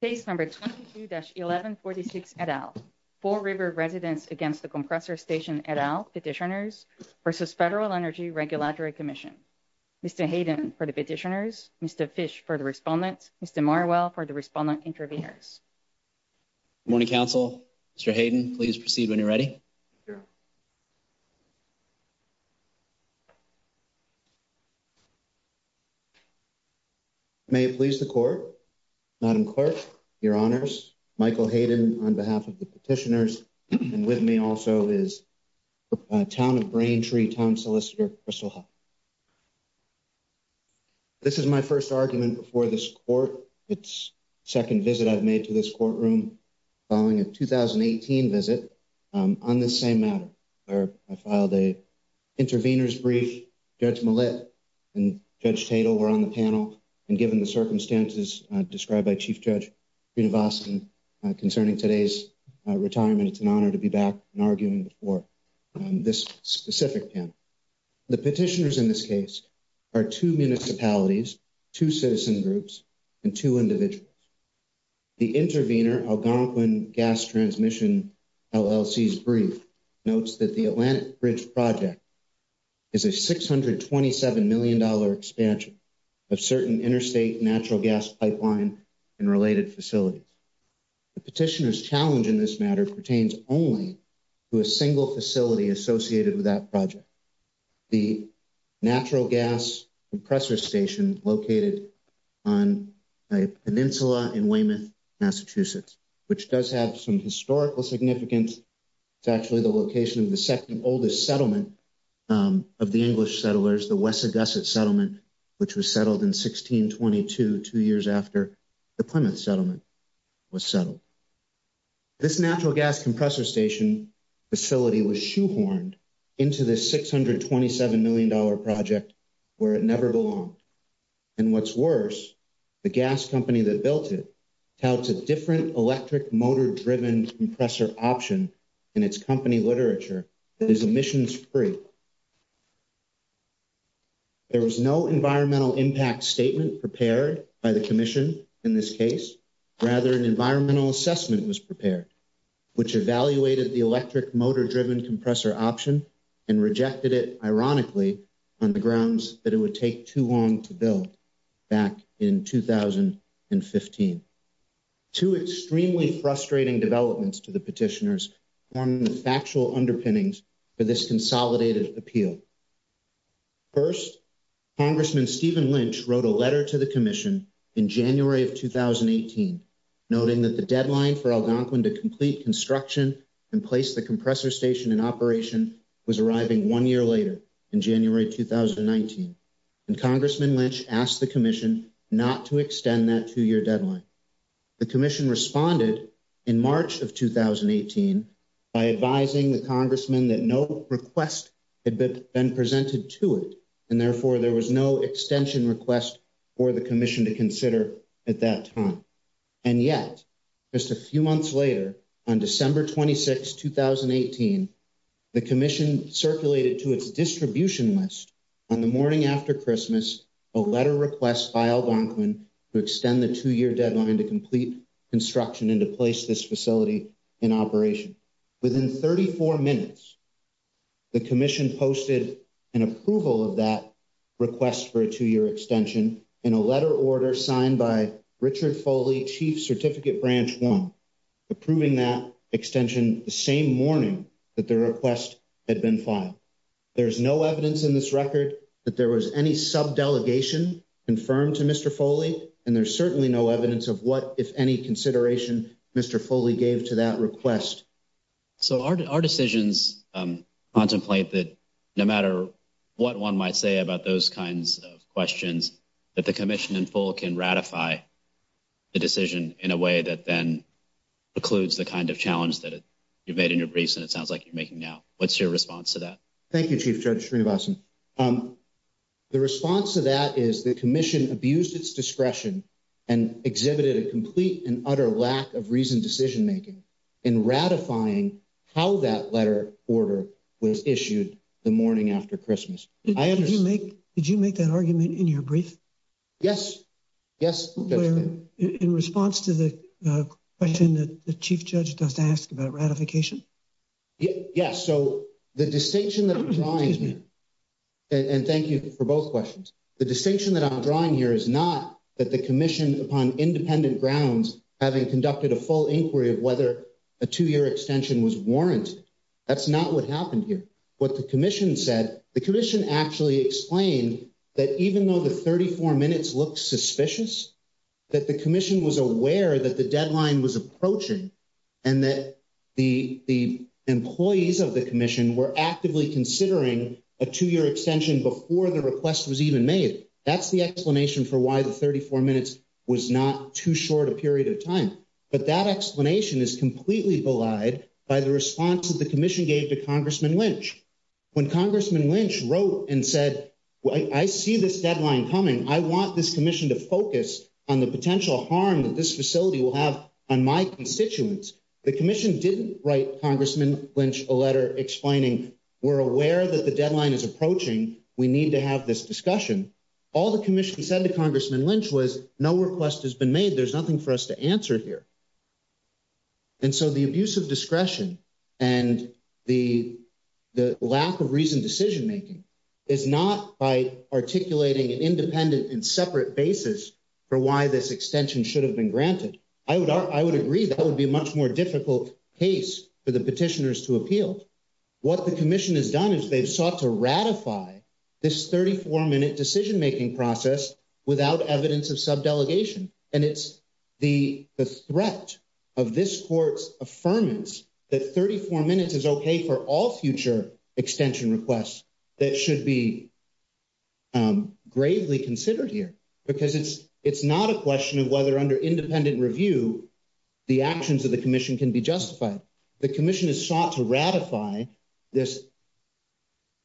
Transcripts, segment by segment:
Case number 22-1146 et al., 4 River Residents Against the Compressor Station et al., Petitioners v. Federal Energy Regulatory Commission. Mr. Hayden for the Petitioners, Mr. Fish for the Respondents, Mr. Marwell for the Respondent Interviewers. Good morning, Council. Mr. Hayden, please proceed when you're ready. Sure. May it please the Court, Madam Clerk, Your Honors, Michael Hayden on behalf of the Petitioners, and with me also is Town of Braintree Town Solicitor Crystal Huff. This is my first argument before this Court. It's the second visit I've made to this courtroom following a 2018 visit on this same matter, where I filed an intervener's brief. Judge Millett and Judge Tatel were on the panel, and given the circumstances described by Chief Judge Vinovacin concerning today's retirement, it's an honor to be back and arguing before this specific panel. The Petitioners in this case are two municipalities, two citizen groups, and two individuals. The intervener, Algonquin Gas Transmission LLC's brief notes that the Atlantic Bridge project is a $627 million expansion of certain interstate natural gas pipeline and related facilities. The Petitioners' challenge in this matter pertains only to a single facility associated with that project, the natural gas compressor station located on a peninsula in Weymouth, Massachusetts, which does have some historical significance. It's actually the location of the second oldest settlement of the English settlers, the Wessagusset Settlement, which was settled in 1622, two years after the Plymouth Settlement was settled. This natural gas compressor station facility was shoehorned into this $627 million project where it never belonged. And what's worse, the gas company that built it touts a different electric motor-driven compressor option in its company literature that is emissions-free. There was no environmental impact statement prepared by the Commission in this case. Rather, an environmental assessment was prepared, which evaluated the electric motor-driven compressor option and rejected it, ironically, on the grounds that it would take too long to build back in 2015. Two extremely frustrating developments to the Petitioners form the factual underpinnings for this consolidated appeal. First, Congressman Stephen Lynch wrote a letter to the Commission in January of 2018, noting that the deadline for Algonquin to complete construction and place the compressor station in operation was arriving one year later, in January 2019. And Congressman Lynch asked the Commission not to extend that two-year deadline. The Commission responded in March of 2018 by advising the Congressman that no request had been presented to it, and therefore there was no extension request for the Commission to consider at that time. And yet, just a few months later, on December 26, 2018, the Commission circulated to its distribution list on the morning after Christmas a letter request by Algonquin to extend the two-year deadline to complete construction and to place this facility in operation. Within 34 minutes, the Commission posted an approval of that request for a two-year extension in a letter order signed by Richard Foley, Chief Certificate Branch 1, approving that extension the same morning that the request had been filed. There's no evidence in this record that there was any sub-delegation confirmed to Mr. Foley, and there's certainly no evidence of what, if any, consideration Mr. Foley gave to that request. So our decisions contemplate that no matter what one might say about those kinds of questions, that the Commission in full can ratify the decision in a way that then precludes the kind of challenge that you've made in your briefs and it sounds like you're making now. What's your response to that? Thank you, Chief Judge Srinivasan. The response to that is the Commission abused its discretion and exhibited a complete and utter lack of reasoned decision-making in ratifying how that letter order was issued the morning after Christmas. Did you make that argument in your brief? Yes. In response to the question that the Chief Judge does ask about ratification? Yes, so the distinction that I'm drawing here, and thank you for both questions. The distinction that I'm drawing here is not that the Commission, upon independent grounds, having conducted a full inquiry of whether a two-year extension was warranted. That's not what happened here. What the Commission said, the Commission actually explained that even though the 34 minutes looked suspicious, that the Commission was aware that the deadline was approaching and that the employees of the Commission were actively considering a two-year extension before the request was even made. That's the explanation for why the 34 minutes was not too short a period of time. But that explanation is completely belied by the response that the Commission gave to Congressman Lynch. When Congressman Lynch wrote and said, I see this deadline coming, I want this Commission to focus on the potential harm that this facility will have on my constituents, the Commission didn't write Congressman Lynch a letter explaining, we're aware that the deadline is approaching, we need to have this discussion. All the Commission said to Congressman Lynch was, no request has been made, there's nothing for us to answer here. And so the abuse of discretion and the lack of reasoned decision-making is not by articulating an independent and separate basis for why this extension should have been granted. I would agree that would be a much more difficult case for the petitioners to appeal. What the Commission has done is they've sought to ratify this 34-minute decision-making process without evidence of subdelegation. And it's the threat of this court's affirmance that 34 minutes is okay for all future extension requests that should be gravely considered here. Because it's not a question of whether under independent review the actions of the Commission can be justified. The Commission has sought to ratify this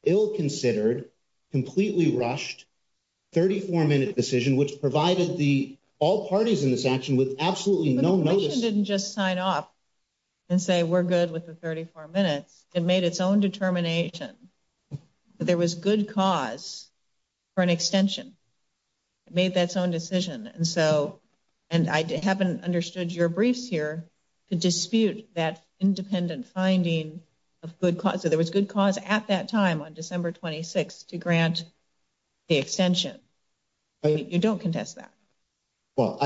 ill-considered, completely rushed, 34-minute decision, which provided all parties in this action with absolutely no notice. But the Commission didn't just sign off and say, we're good with the 34 minutes. It made its own determination that there was good cause for an extension. It made its own decision. And I haven't understood your briefs here to dispute that independent finding of good cause. So there was good cause at that time on December 26th to grant the extension. You don't contest that. You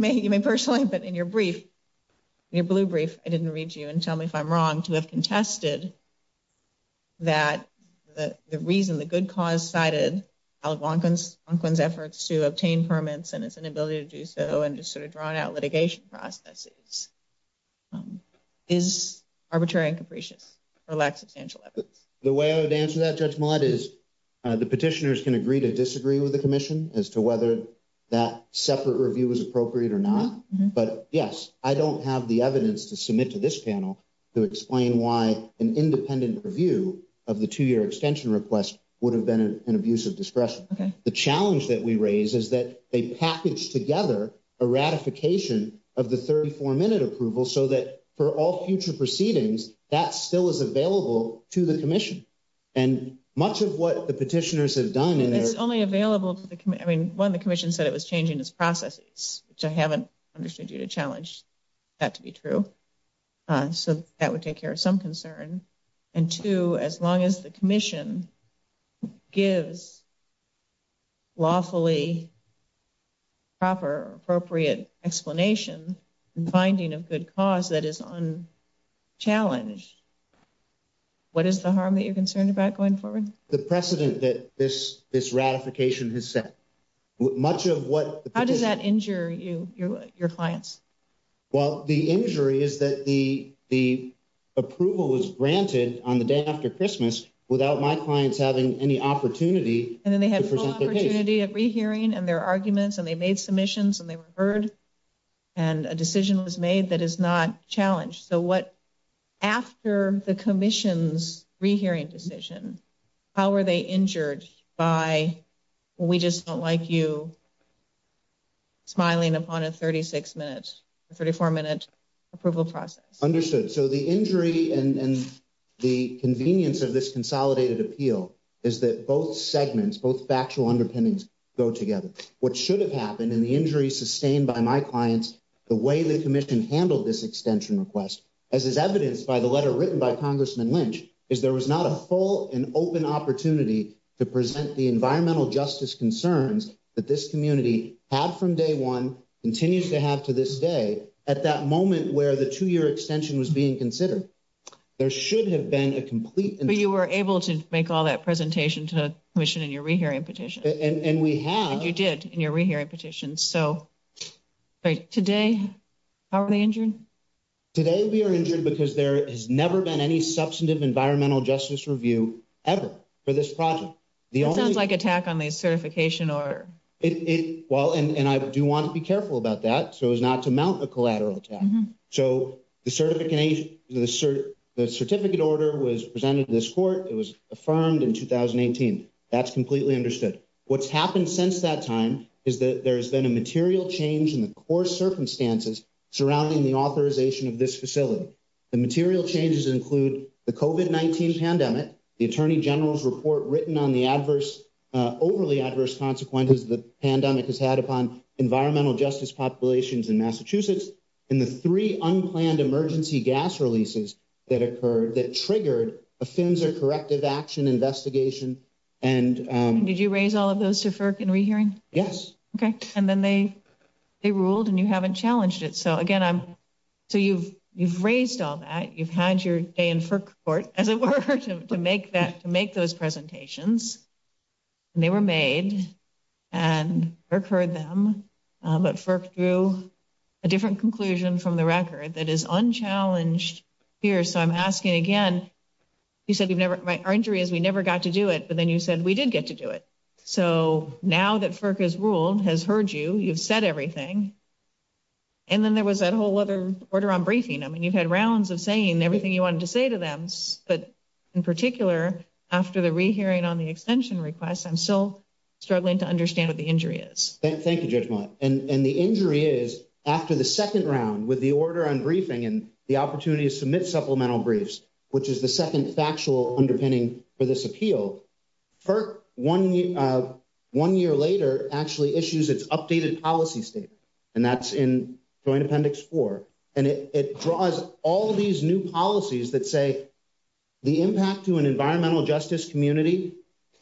may personally, but in your brief, your blue brief, I didn't read you and tell me if I'm wrong to have contested that the reason the good cause cited Al Gwonquin's efforts to obtain permits and its inability to do so and just sort of drawn out litigation processes is arbitrary and capricious or lacks substantial evidence. The way I would answer that, Judge Millett, is the petitioners can agree to disagree with the Commission as to whether that separate review was appropriate or not. But, yes, I don't have the evidence to submit to this panel to explain why an independent review of the two-year extension request would have been an abuse of discretion. The challenge that we raise is that they package together a ratification of the 34-minute approval so that for all future proceedings, that still is available to the Commission. And much of what the petitioners have done is only available to the Commission. One, the Commission said it was changing its processes, which I haven't understood you to challenge that to be true. So that would take care of some concern. And two, as long as the Commission gives lawfully proper, appropriate explanation and finding of good cause that is unchallenged, what is the harm that you're concerned about going forward? The precedent that this ratification has set. How does that injure you, your clients? Well, the injury is that the approval was granted on the day after Christmas without my clients having any opportunity to present their case. And then they had full opportunity of rehearing and their arguments and they made submissions and they were heard and a decision was made that is not challenged. So what after the Commission's rehearing decision, how are they injured by we just don't like you smiling upon a 36 minutes, 34 minute approval process? Understood. So the injury and the convenience of this consolidated appeal is that both segments, both factual underpinnings go together. What should have happened in the injury sustained by my clients, the way the Commission handled this extension request, as is evidenced by the letter written by Congressman Lynch, is there was not a full and open opportunity to present the environmental justice concerns that this community had from day one continues to have to this day at that moment where the two year extension was being considered. There should have been a complete, but you were able to make all that presentation to the Commission in your rehearing petition. And we have you did in your rehearing petition. So. Today, how are they injured today? We are injured because there has never been any substantive environmental justice review ever for this project. Sounds like attack on the certification or it. Well, and I do want to be careful about that. So it's not to mount a collateral. So the certificate order was presented to this court. It was affirmed in 2018. That's completely understood what's happened since that time is that there's been a material change in the core circumstances surrounding the authorization of this facility. The material changes include the coven 19 pandemic, the attorney general's report written on the adverse overly adverse consequences. The pandemic has had upon environmental justice populations in Massachusetts. And the three unplanned emergency gas releases that occurred that triggered offensive corrective action investigation. And did you raise all of those deferred and rehearing? Yes. Okay. And then they, they ruled and you haven't challenged it. So, again, I'm so you've, you've raised all that you've had your day in court as it were to make that to make those presentations. And they were made and occurred them, but for through a different conclusion from the record that is unchallenged here. So I'm asking again. You said our injury is we never got to do it. But then you said we did get to do it. So now that FERC has ruled has heard you, you've said everything. And then there was that whole other order on briefing. I mean, you've had rounds of saying everything you wanted to say to them. But in particular, after the rehearing on the extension request, I'm still struggling to understand what the injury is. Thank you. And the injury is after the second round with the order on briefing and the opportunity to submit supplemental briefs, which is the second factual underpinning for this appeal. The impact to an environmental justice community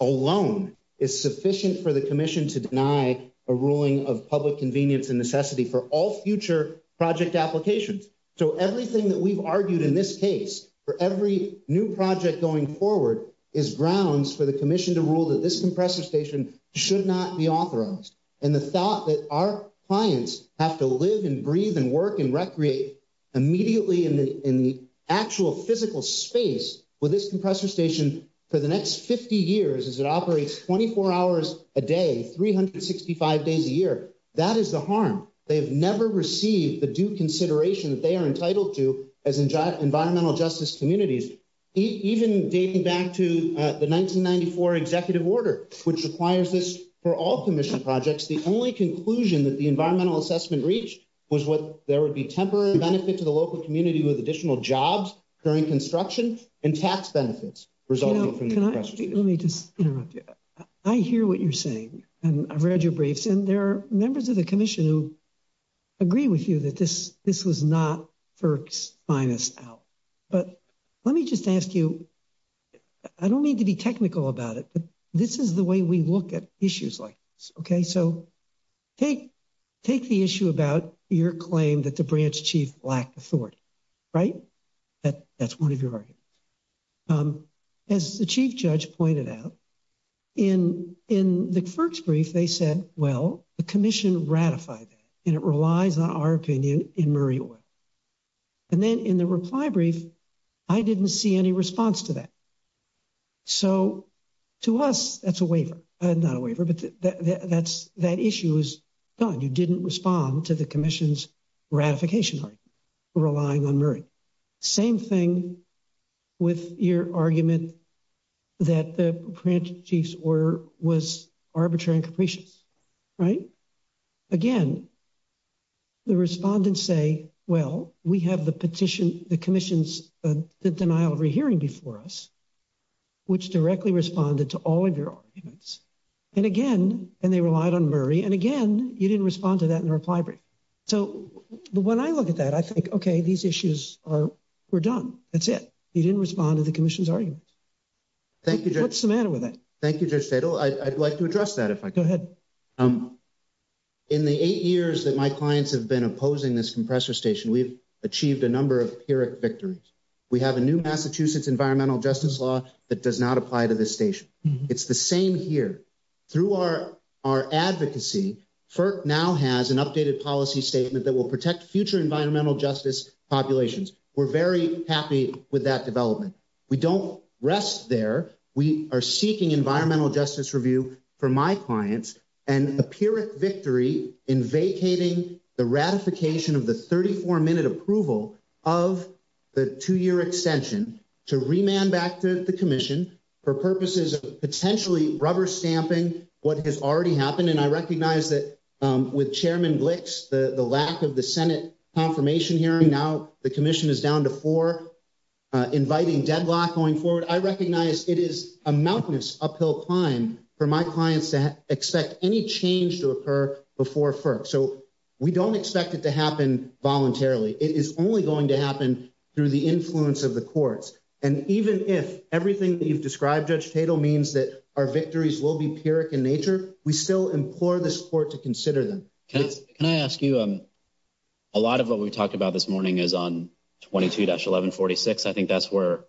alone is sufficient for the commission to deny a ruling of public convenience and necessity for all future project applications. So, everything that we've argued in this case for every new project, going forward, is grounds for the commission to have a second hearing. The commission to rule that this compressor station should not be authorized. And the thought that our clients have to live and breathe and work and recreate immediately in the actual physical space with this compressor station for the next 50 years as it operates 24 hours a day, 365 days a year, that is the harm. They have never received the due consideration that they are entitled to as environmental justice communities, even dating back to the 1994 executive order, which requires this for all commission projects. The only conclusion that the environmental assessment reached was what there would be temporary benefit to the local community with additional jobs during construction and tax benefits resulting from the compressor station. Let me just interrupt you. I hear what you're saying, and I've read your briefs, and there are members of the commission who agree with you that this was not FERC's finest hour. But let me just ask you, I don't mean to be technical about it, but this is the way we look at issues like this, okay? So take the issue about your claim that the branch chief lacked authority, right? That's one of your arguments. As the chief judge pointed out, in the FERC's brief, they said, well, the commission ratified that, and it relies on our opinion in Murray Oil. And then in the reply brief, I didn't see any response to that. So to us, that's a waiver. Not a waiver, but that issue is gone. You didn't respond to the commission's ratification relying on Murray. Same thing with your argument that the branch chief's order was arbitrary and capricious, right? Again, the respondents say, well, we have the petition, the commission's denial of re-hearing before us, which directly responded to all of your arguments. And again, and they relied on Murray, and again, you didn't respond to that in the reply brief. So when I look at that, I think, okay, these issues were done. That's it. You didn't respond to the commission's argument. Thank you, Judge. What's the matter with that? Thank you, Judge Fadel. I'd like to address that, if I could. Go ahead. In the eight years that my clients have been opposing this compressor station, we've achieved a number of PYRIC victories. We have a new Massachusetts environmental justice law that does not apply to this station. It's the same here. Through our advocacy, FERC now has an updated policy statement that will protect future environmental justice populations. We're very happy with that development. We don't rest there. We are seeking environmental justice review for my clients and a PYRIC victory in vacating the ratification of the 34-minute approval of the two-year extension to remand back to the commission for purposes of potentially rubber stamping what has already happened. I recognize that with Chairman Glick's, the lack of the Senate confirmation hearing, now the commission is down to four, inviting deadlock going forward. I recognize it is a mountainous uphill climb for my clients to expect any change to occur before FERC. So we don't expect it to happen voluntarily. It is only going to happen through the influence of the courts. And even if everything that you've described, Judge Fadel, means that our victories will be PYRIC in nature, we still implore this court to consider them. Can I ask you, a lot of what we talked about this morning is on 22-1146. I think that's where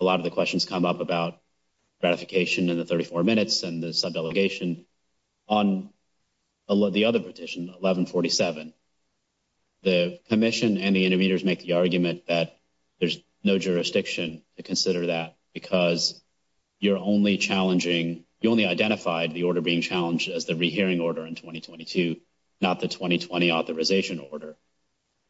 a lot of the questions come up about ratification and the 34 minutes and the subdelegation. On the other petition, 1147, the commission and the intermediators make the argument that there's no jurisdiction to consider that because you're only challenging, you only identified the order being challenged as the rehearing order in 2022, not the 2020 authorization order.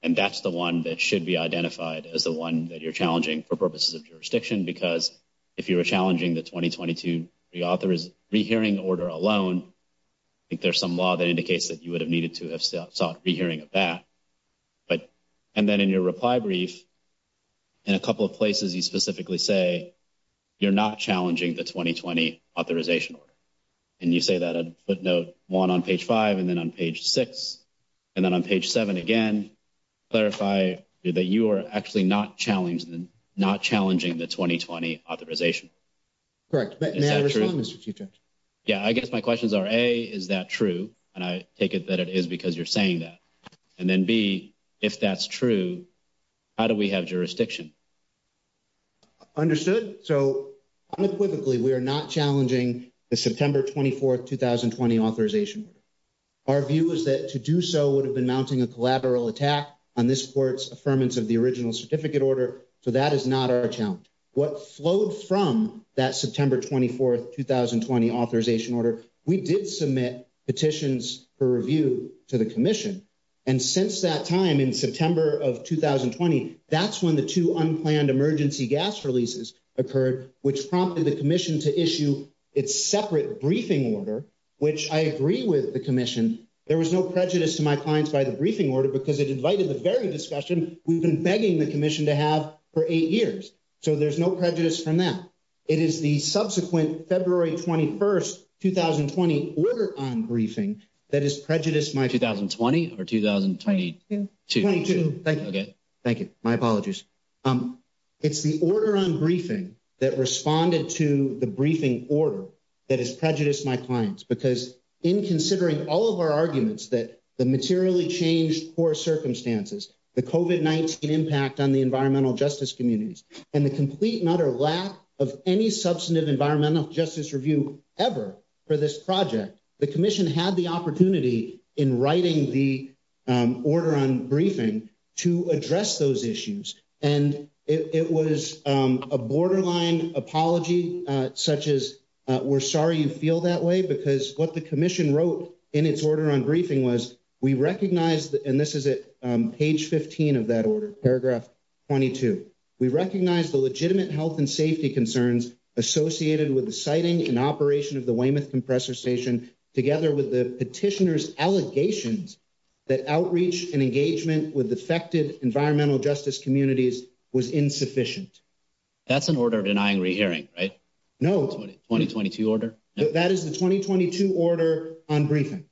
And that's the one that should be identified as the one that you're challenging for purposes of jurisdiction because if you were challenging the 2022, the author is rehearing order alone. I think there's some law that indicates that you would have needed to have sought rehearing of that. And then in your reply brief, in a couple of places you specifically say you're not challenging the 2020 authorization order. And you say that on footnote one on page five and then on page six and then on page seven again, clarify that you are actually not challenging the 2020 authorization. Correct. May I respond, Mr. Chief Judge? Yeah, I guess my questions are, A, is that true? And I take it that it is because you're saying that. And then B, if that's true, how do we have jurisdiction? Understood. So unequivocally, we are not challenging the September 24th, 2020 authorization. Our view is that to do so would have been mounting a collateral attack on this court's affirmance of the original certificate order. So that is not our challenge. What flowed from that September 24th, 2020 authorization order, we did submit petitions for review to the commission. And since that time in September of 2020, that's when the two unplanned emergency gas releases occurred, which prompted the commission to issue its separate briefing order, which I agree with the commission. There was no prejudice to my clients by the briefing order because it invited the very discussion we've been begging the commission to have for eight years. So there's no prejudice from that. It is the subsequent February 21st, 2020 order on briefing that is prejudiced my 2020 or 2022. Thank you. Thank you. My apologies. It's the order on briefing that responded to the briefing order that is prejudiced my clients because in considering all of our arguments that the materially changed poor circumstances, the COVID-19 impact on the environmental justice communities and the complete and utter lack of any substantive environmental justice review ever for this project, the commission had the opportunity in writing the order on briefing. To address those issues and it was a borderline apology, such as we're sorry you feel that way because what the commission wrote in its order on briefing was we recognize that and this is it page 15 of that order paragraph. 22, we recognize the legitimate health and safety concerns associated with the siting and operation of the Weymouth compressor station together with the petitioners allegations that outreach and engagement with affected environmental justice communities was insufficient. That's an order of denying re, hearing right? No, 2022 order that is the 2022 order on briefing.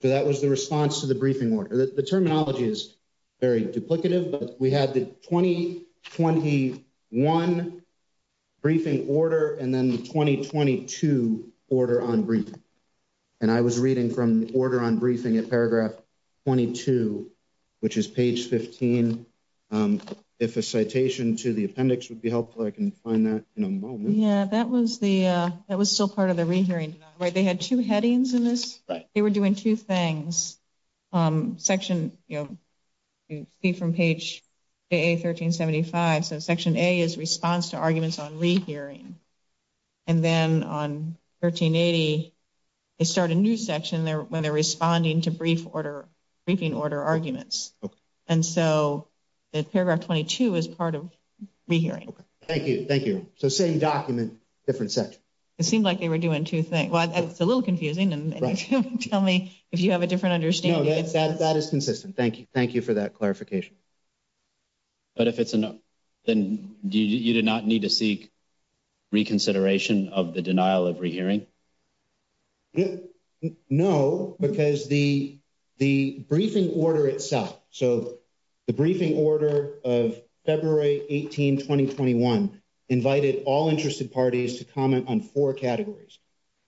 So, that was the response to the briefing order. The terminology is very duplicative, but we had the 2021 briefing order and then the 2022 order on brief. And I was reading from order on briefing a paragraph 22, which is page 15. If a citation to the appendix would be helpful, I can find that in a moment. Yeah, that was the that was still part of the re, hearing where they had two headings in this. Right? They were doing two things. Section from page. A 1375, so section a is response to arguments on re, hearing and then on 1380. They start a new section there when they're responding to brief order. Briefing order arguments. Okay. And so. The paragraph 22 is part of re, hearing. Okay. Thank you. Thank you. So same document. Different set it seemed like they were doing two things. Well, it's a little confusing and tell me if you have a different understanding that that is consistent. Thank you. Thank you for that clarification. But if it's enough. Then you did not need to seek reconsideration of the denial of re, hearing. No, because the, the briefing order itself, so. The briefing order of February 18, 2021. Invited all interested parties to comment on 4 categories.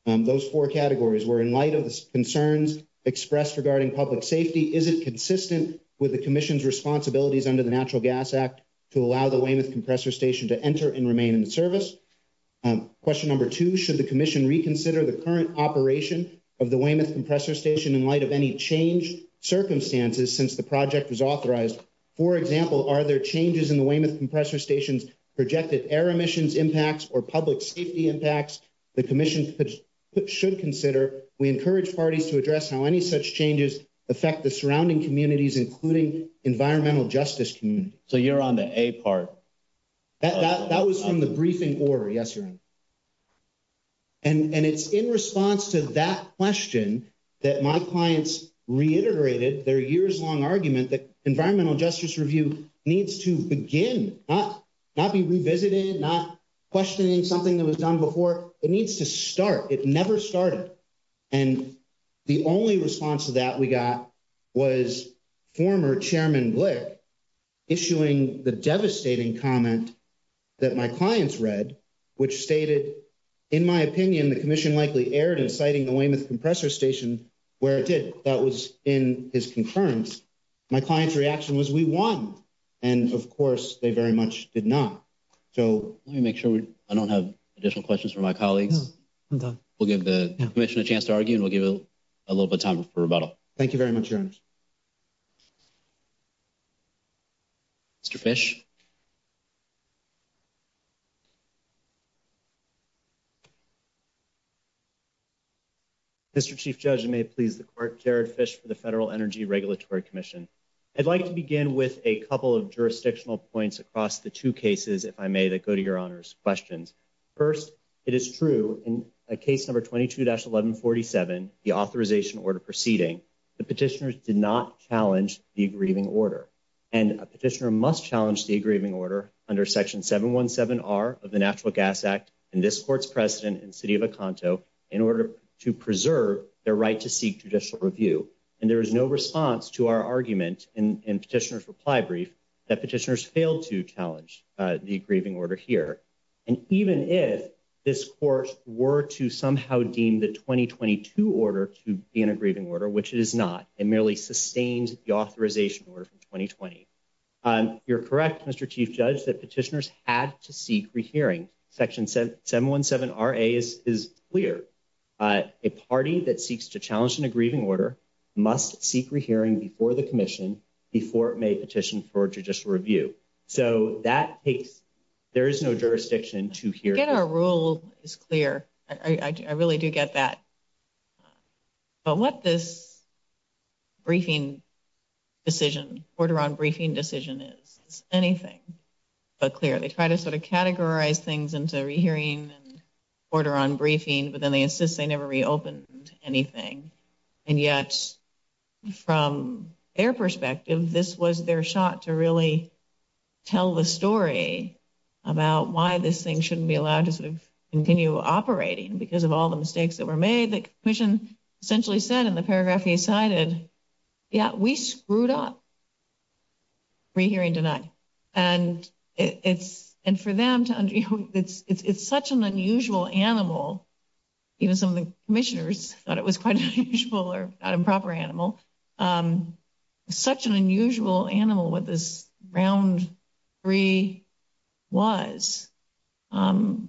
Those 4 categories were in light of the concerns expressed regarding public safety. Is it consistent with the commission's responsibilities under the natural gas act? To allow the way with compressor station to enter and remain in service. Question number 2, should the commission reconsider the current operation of the way with compressor station in light of any change circumstances since the project was authorized? For example, are there changes in the way with compressor stations projected air emissions impacts or public safety impacts? The commission should consider we encourage parties to address how any such changes affect the surrounding communities, including environmental justice community. So, you're on the a part that was from the briefing order. Yes. And it's in response to that question that my clients reiterated their years long argument that environmental justice review needs to begin not. Not be revisited, not questioning something that was done before it needs to start. It never started. And the only response to that we got. Was former chairman issuing the devastating comment. That my clients read, which stated. In my opinion, the commission likely aired inciting the way with compressor station where it did that was in his concurrence. My client's reaction was we won and of course, they very much did not. So, let me make sure I don't have additional questions for my colleagues. We'll give the commission a chance to argue and we'll give it a little bit time for rebuttal. Thank you very much. Mr. Fish. Mr. Chief judge may please the court Jared fish for the Federal Energy Regulatory Commission. I'd like to begin with a couple of jurisdictional points across the two cases if I may that go to your honors questions. First, it is true in a case number 22 dash 1147, the authorization order proceeding. The petitioners did not challenge the aggrieving order. And a petitioner must challenge the aggrieving order under section 717 are of the natural gas act. And this court's precedent and city of a conto in order to preserve their right to seek judicial review. And there is no response to our argument and petitioners reply brief that petitioners failed to challenge the aggrieving order here. And even if this court were to somehow deem the 2022 order to be an aggrieving order, which it is not. It merely sustains the authorization order for 2020. You're correct Mr. Chief judge that petitioners had to seek rehearing section 717. R. A. is clear a party that seeks to challenge an aggrieving order must seek rehearing before the commission before it may petition for judicial review. So, that takes there is no jurisdiction to get a rule is clear. I really do get that. But what this briefing decision order on briefing decision is anything. But clearly try to sort of categorize things into hearing order on briefing, but then they insist they never reopened anything. And yet, from their perspective, this was their shot to really tell the story about why this thing shouldn't be allowed to sort of continue operating because of all the mistakes that were made. The commission essentially said in the paragraph he cited. Yeah, we screwed up. Rehearing tonight, and it's and for them to it's such an unusual animal. Even some of the commissioners thought it was quite unusual or improper animal. Such an unusual animal with this round. Free was, I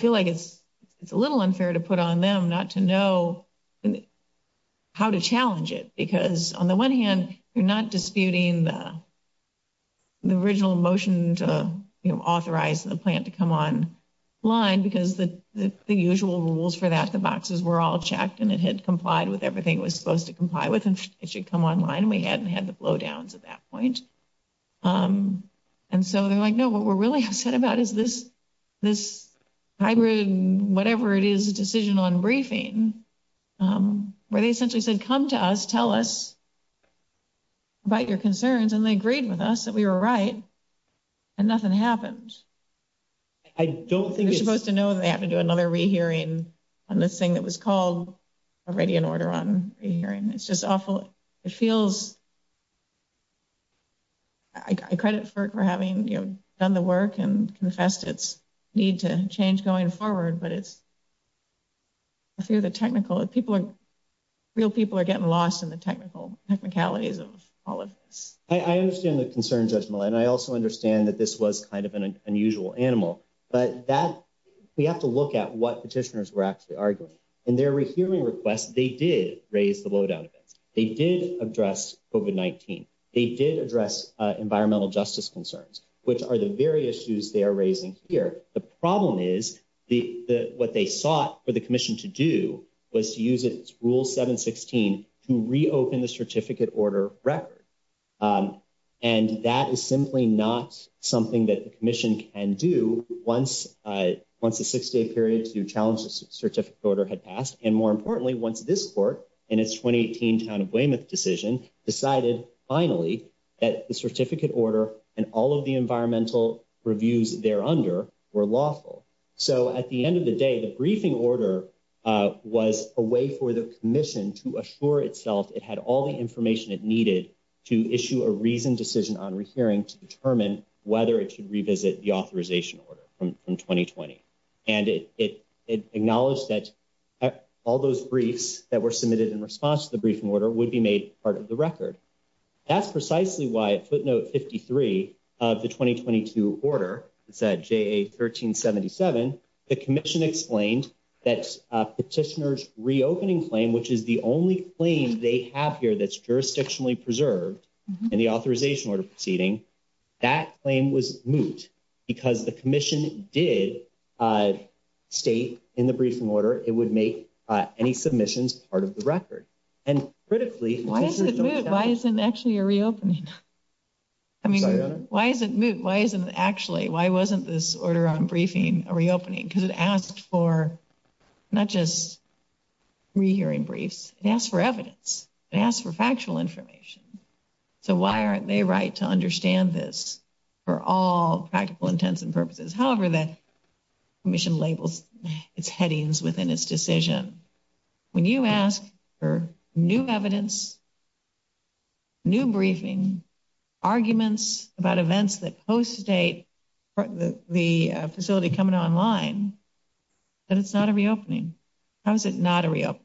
feel like it's a little unfair to put on them not to know. How to challenge it, because on the one hand, you're not disputing the. The original motion to authorize the plant to come on line, because the usual rules for that the boxes were all checked and it had complied with everything was supposed to comply with and it should come online. We hadn't had the blow downs at that point. And so they're like, no, what we're really upset about is this, this hybrid, whatever it is a decision on briefing where they essentially said, come to us, tell us about your concerns. And they agreed with us that we were right. And nothing happens. I don't think you're supposed to know that to do another re, hearing on this thing that was called already in order on hearing. It's just awful. It feels. I credit for having done the work and confessed its need to change going forward, but it's. I feel the technical people are real people are getting lost in the technical technicalities of all of this. I understand the concerns as well. And I also understand that this was kind of an unusual animal, but that. We have to look at what petitioners were actually arguing and they're hearing requests. They did raise the load out of it. They did address over 19. They did address environmental justice concerns, which are the very issues they are raising here. The problem is the, what they sought for the commission to do was to use it rule 716 to reopen the certificate order record. And that is simply not something that the commission can do once once a 6 day period to challenge the certificate order had passed. And more importantly, once this court, and it's 2018 kind of decision decided, finally, that the certificate order and all of the environmental reviews there under were lawful. So, at the end of the day, the briefing order was a way for the commission to assure itself. It had all the information it needed to issue a reason decision on hearing to determine whether it should revisit the authorization order from 2020. And it, it, it acknowledged that all those briefs that were submitted in response to the briefing order would be made part of the record. That's precisely why footnote 53 of the 2022 order said, Jay, a 1377, the commission explained that petitioners reopening claim, which is the only claim they have here. That's jurisdictionally preserved and the authorization order proceeding. That claim was moot because the commission did state in the briefing order, it would make any submissions part of the record and critically. Why isn't actually a reopening? I mean, why is it why isn't actually why wasn't this order on briefing a reopening? Because it asked for not just. Rehearing briefs and ask for evidence and ask for factual information. So, why aren't they right to understand this for all practical intents and purposes? However, that mission labels it's headings within its decision. When you ask for new evidence. New briefing arguments about events that post date. The facility coming online. And it's not a reopening. How is it not a reopening?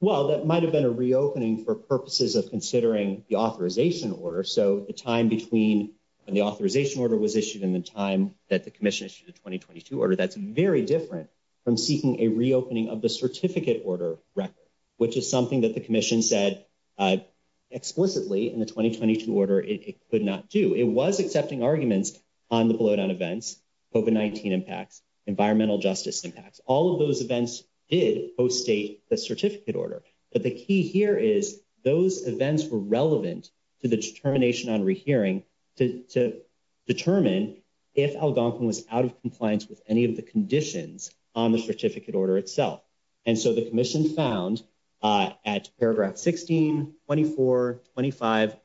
Well, that might have been a reopening for purposes of considering the authorization order. So, the time between when the authorization order was issued in the time that the commission issued a 2022 order, that's very different from seeking a reopening of the certificate order record, which is something that the commission said. Explicitly in the 2022 order, it could not do it was accepting arguments on the blow down events over 19 impacts environmental justice impacts. All of those events did post a certificate order, but the key here is those events were relevant to the determination on rehearing to determine if Algonquin was out of compliance with any of the conditions on the certificate order itself. And so the commission found at paragraph 16, 24, 25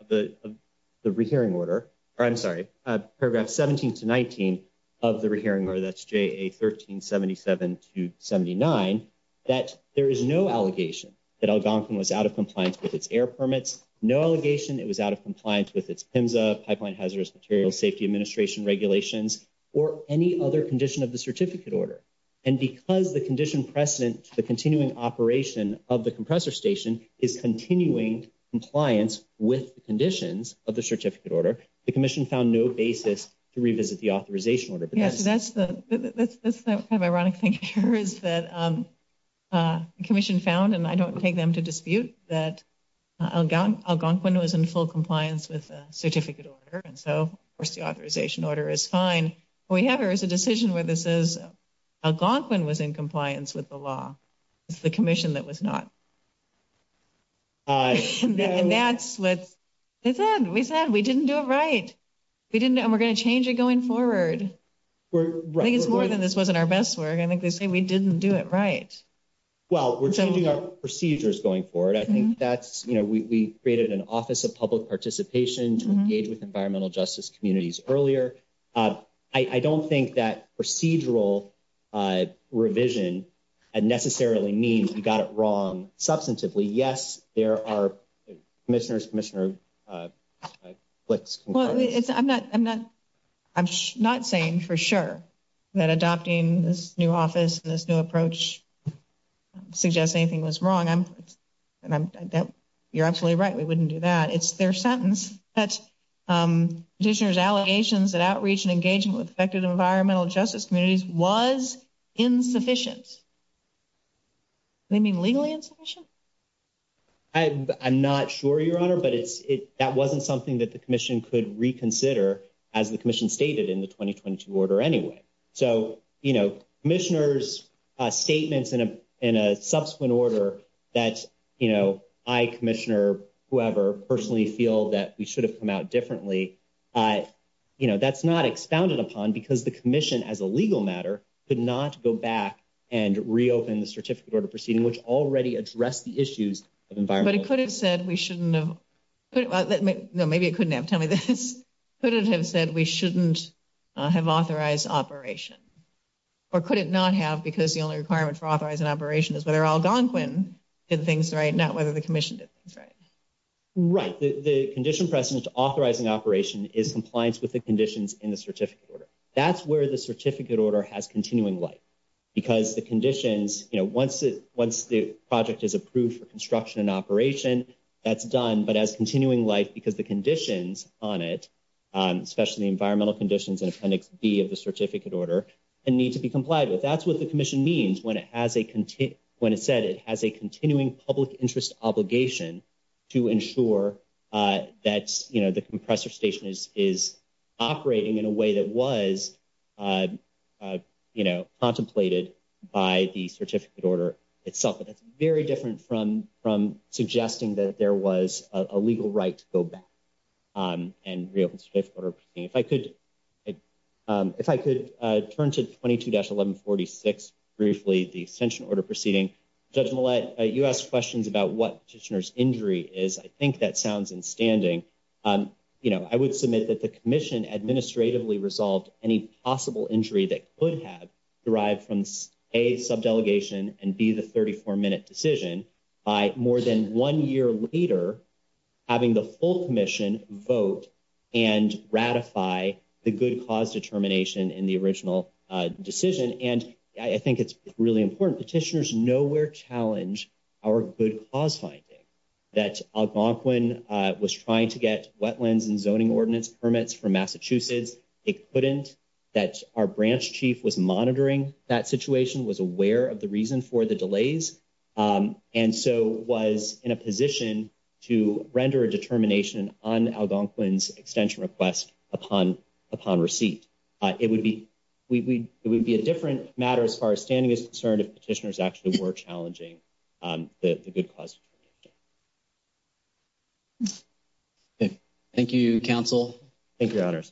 of the rehearing order. I'm sorry, paragraph 17 to 19 of the rehearing or that's a 1377 to 79 that there is no allegation that Algonquin was out of compliance with its air permits. No allegation it was out of compliance with its pipeline hazardous material safety administration regulations, or any other condition of the certificate order. And because the condition precedent, the continuing operation of the compressor station is continuing compliance with the conditions of the certificate order. The commission found no basis to revisit the authorization order, but that's the kind of ironic thing here is that commission found and I don't take them to dispute that Algonquin was in full compliance with certificate order. And so, of course, the authorization order is fine. We have here is a decision where this is. Algonquin was in compliance with the law. The commission that was not and that's what we said we didn't do it right. We didn't and we're going to change it going forward. I think it's more than this wasn't our best work. I think they say we didn't do it right. Well, we're changing our procedures going forward. I think that's, you know, we created an office of public participation to engage with environmental justice communities earlier. I don't think that procedural revision and necessarily means you got it wrong substantively. Yes, there are. Mr. Commissioner, I'm not saying for sure that adopting this new office, this new approach suggest anything was wrong. And you're absolutely right. We wouldn't do that. It's their sentence. That's just allegations that outreach and engaging with effective environmental justice communities was insufficient. They mean legally insufficient. I'm not sure your honor, but it's it that wasn't something that the commission could reconsider as the commission stated in the twenty twenty two order anyway. So, you know, commissioners statements in a in a subsequent order that, you know, I commissioner, whoever personally feel that we should have come out differently. You know, that's not expounded upon because the commission as a legal matter could not go back and reopen the certificate order proceeding, which already address the issues of environment. But it could have said we shouldn't know. No, maybe it couldn't have. Tell me this. Could it have said we shouldn't have authorized operation or could it not have? Because the only requirement for authorizing operation is whether Algonquin did things right. Not whether the commission did things right. Right. The condition precedent authorizing operation is compliance with the conditions in the certificate order. That's where the certificate order has continuing life because the conditions, you know, once it once the project is approved for construction and operation, that's done. But as continuing life, because the conditions on it, especially environmental conditions and appendix B of the certificate order and need to be complied with. That's what the commission means when it has a when it said it has a continuing public interest obligation to ensure that the compressor station is operating in a way that was, you know, contemplated by the certificate order itself. But that's very different from from suggesting that there was a legal right to go back and reopen. If I could, if I could turn to twenty two dash eleven forty six briefly, the extension order proceeding. Judge Millett, you asked questions about what petitioners injury is. I think that sounds in standing. I would submit that the commission administratively resolved any possible injury that would have derived from a sub delegation and be the thirty four minute decision by more than one year later. Having the full commission vote and ratify the good cause determination in the original decision. And I think it's really important petitioners know where challenge our good cause finding that Algonquin was trying to get wetlands and zoning ordinance permits from Massachusetts. It couldn't that our branch chief was monitoring that situation was aware of the reason for the delays and so was in a position to render a determination on Algonquin's extension request upon upon receipt. It would be we would be a different matter as far as standing is concerned, if petitioners actually were challenging the good cause. Thank you council. Thank you.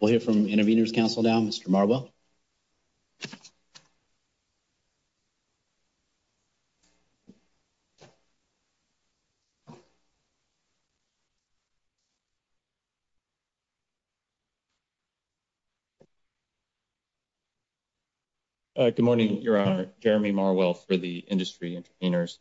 We'll hear from intervenors council down Mr. Marble. Good morning. Your honor Jeremy Marwell for the industry intervenors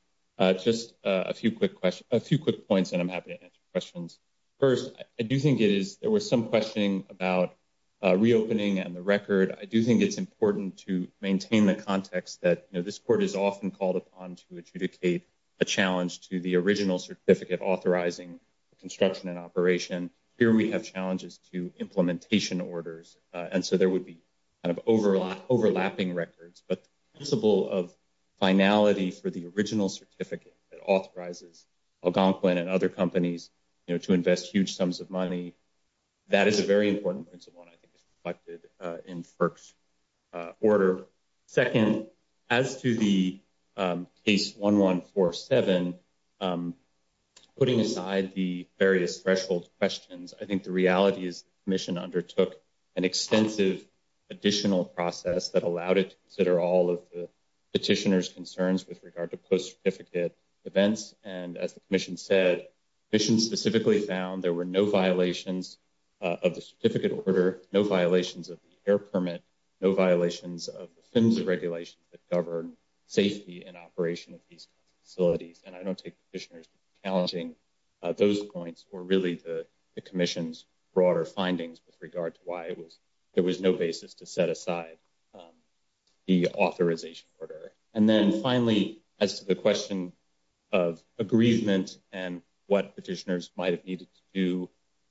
just a few quick questions a few quick points and I'm happy to answer questions. First, I do think it is there was some questioning about reopening and the record. I do think it's important to maintain the context that this court is often called upon to adjudicate a challenge to the original certificate authorizing construction and operation. And here we have challenges to implementation orders. And so there would be kind of overlap overlapping records, but visible of finality for the original certificate authorizes Algonquin and other companies to invest huge sums of money. That is a very important principle and I think it's reflected in first order. Second, as to the case, 1, 1, 4, 7, putting aside the various threshold questions, I think the reality is mission undertook an extensive additional process that allowed it to consider all of the petitioners concerns with regard to post certificate events. And as the commission said, mission specifically found there were no violations of the certificate order, no violations of the air permit, no violations of the regulations that govern safety and operation of these facilities. And I don't take petitioners challenging those points or really the commission's broader findings with regard to why it was, there was no basis to set aside. The authorization order, and then finally, as to the question of agreement and what petitioners might have needed to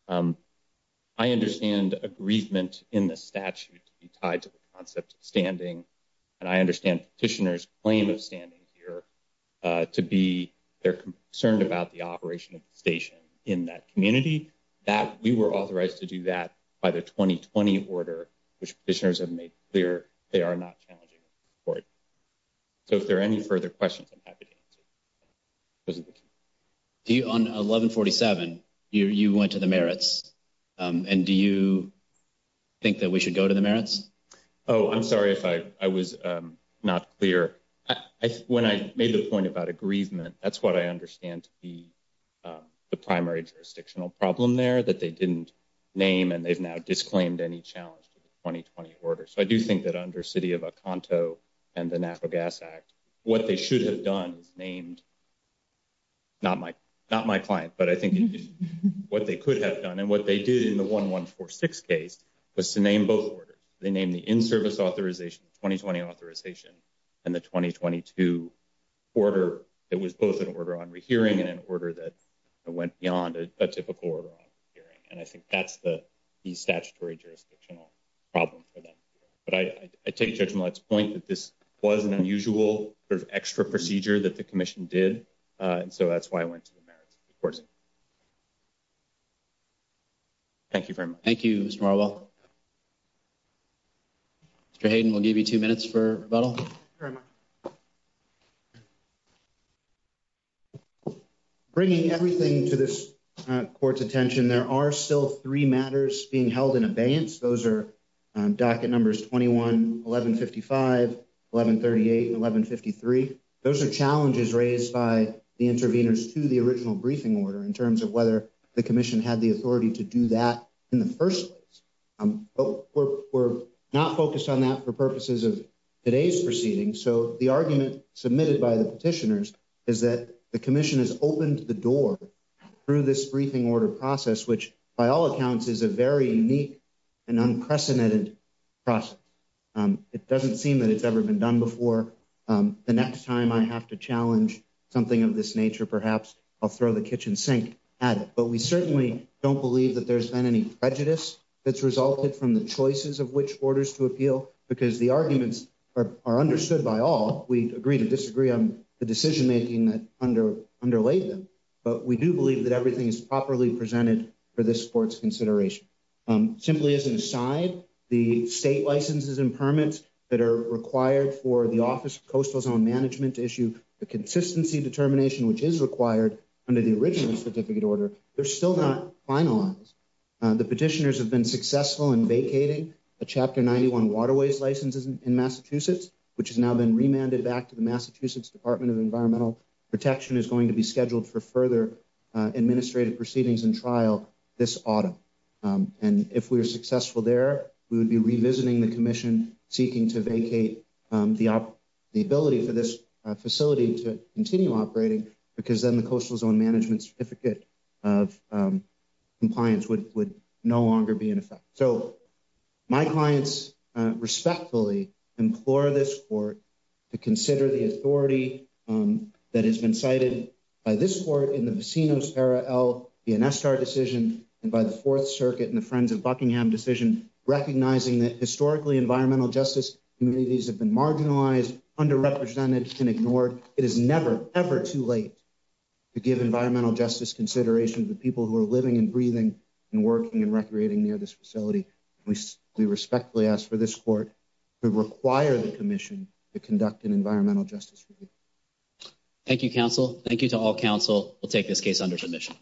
do. I understand agreement in the statute to be tied to the concept of standing. And I understand petitioners claim of standing here to be they're concerned about the operation of the station in that community that we were authorized to do that by the 2020 order, which petitioners have made clear. They are not challenging for it. So, if there are any further questions, I'm happy to answer. On 1147, you went to the merits and do you think that we should go to the merits? Oh, I'm sorry if I was not clear when I made the point about agreement. That's what I understand to be the primary jurisdictional problem there that they didn't name and they've now disclaimed any challenge to the 2020 order. So, I do think that under city of a conto and the natural gas act, what they should have done is named. Not my, not my client, but I think what they could have done and what they did in the 1, 1, 4, 6 case was to name both orders. They named the in service authorization, 2020 authorization. And the 2022 order, it was both an order on rehearing and an order that went beyond a typical order. And I think that's the, the statutory jurisdictional problem for them. But I, I take judgment let's point that this was an unusual extra procedure that the commission did. And so that's why I went to the merits. Of course. Thank you. Thank you. Mr. Hayden. We'll give you 2 minutes for rebuttal. Bringing everything to this court's attention, there are still 3 matters being held in abeyance. Those are docket numbers, 21, 1155, 1138, 1153. Those are challenges raised by the intervenors to the original briefing order in terms of whether the commission had the authority to do that in the 1st place. We're not focused on that for purposes of today's proceeding. So, the argument submitted by the petitioners is that the commission has opened the door through this briefing order process, which by all accounts is a very unique. And unprecedented process, it doesn't seem that it's ever been done before. The next time I have to challenge something of this nature, perhaps I'll throw the kitchen sink at it. But we certainly don't believe that there's been any prejudice that's resulted from the choices of which orders to appeal because the arguments are understood by all. We agree to disagree on the decision making that under underlay them. But we do believe that everything is properly presented for this sports consideration. Simply as an aside, the state licenses and permits that are required for the office of coastal zone management to issue the consistency determination, which is required under the original certificate order. They're still not finalized. The petitioners have been successful in vacating a chapter 91 waterways licenses in Massachusetts, which has now been remanded back to the Massachusetts Department of Environmental Protection is going to be scheduled for further administrative proceedings and trial. This autumn, and if we are successful there, we would be revisiting the commission seeking to vacate the, the ability for this facility to continue operating because then the coastal zone management certificate of compliance would would no longer be in effect. So, my clients respectfully implore this court to consider the authority that has been cited by this court in the scene of Sarah L. And by the 4th Circuit and the friends of Buckingham decision, recognizing that historically environmental justice communities have been marginalized, underrepresented and ignored. It is never ever too late to give environmental justice consideration to the people who are living and breathing and working and recreating near this facility. We respectfully ask for this court to require the commission to conduct an environmental justice. Thank you, counsel. Thank you to all counsel. We'll take this case under submission.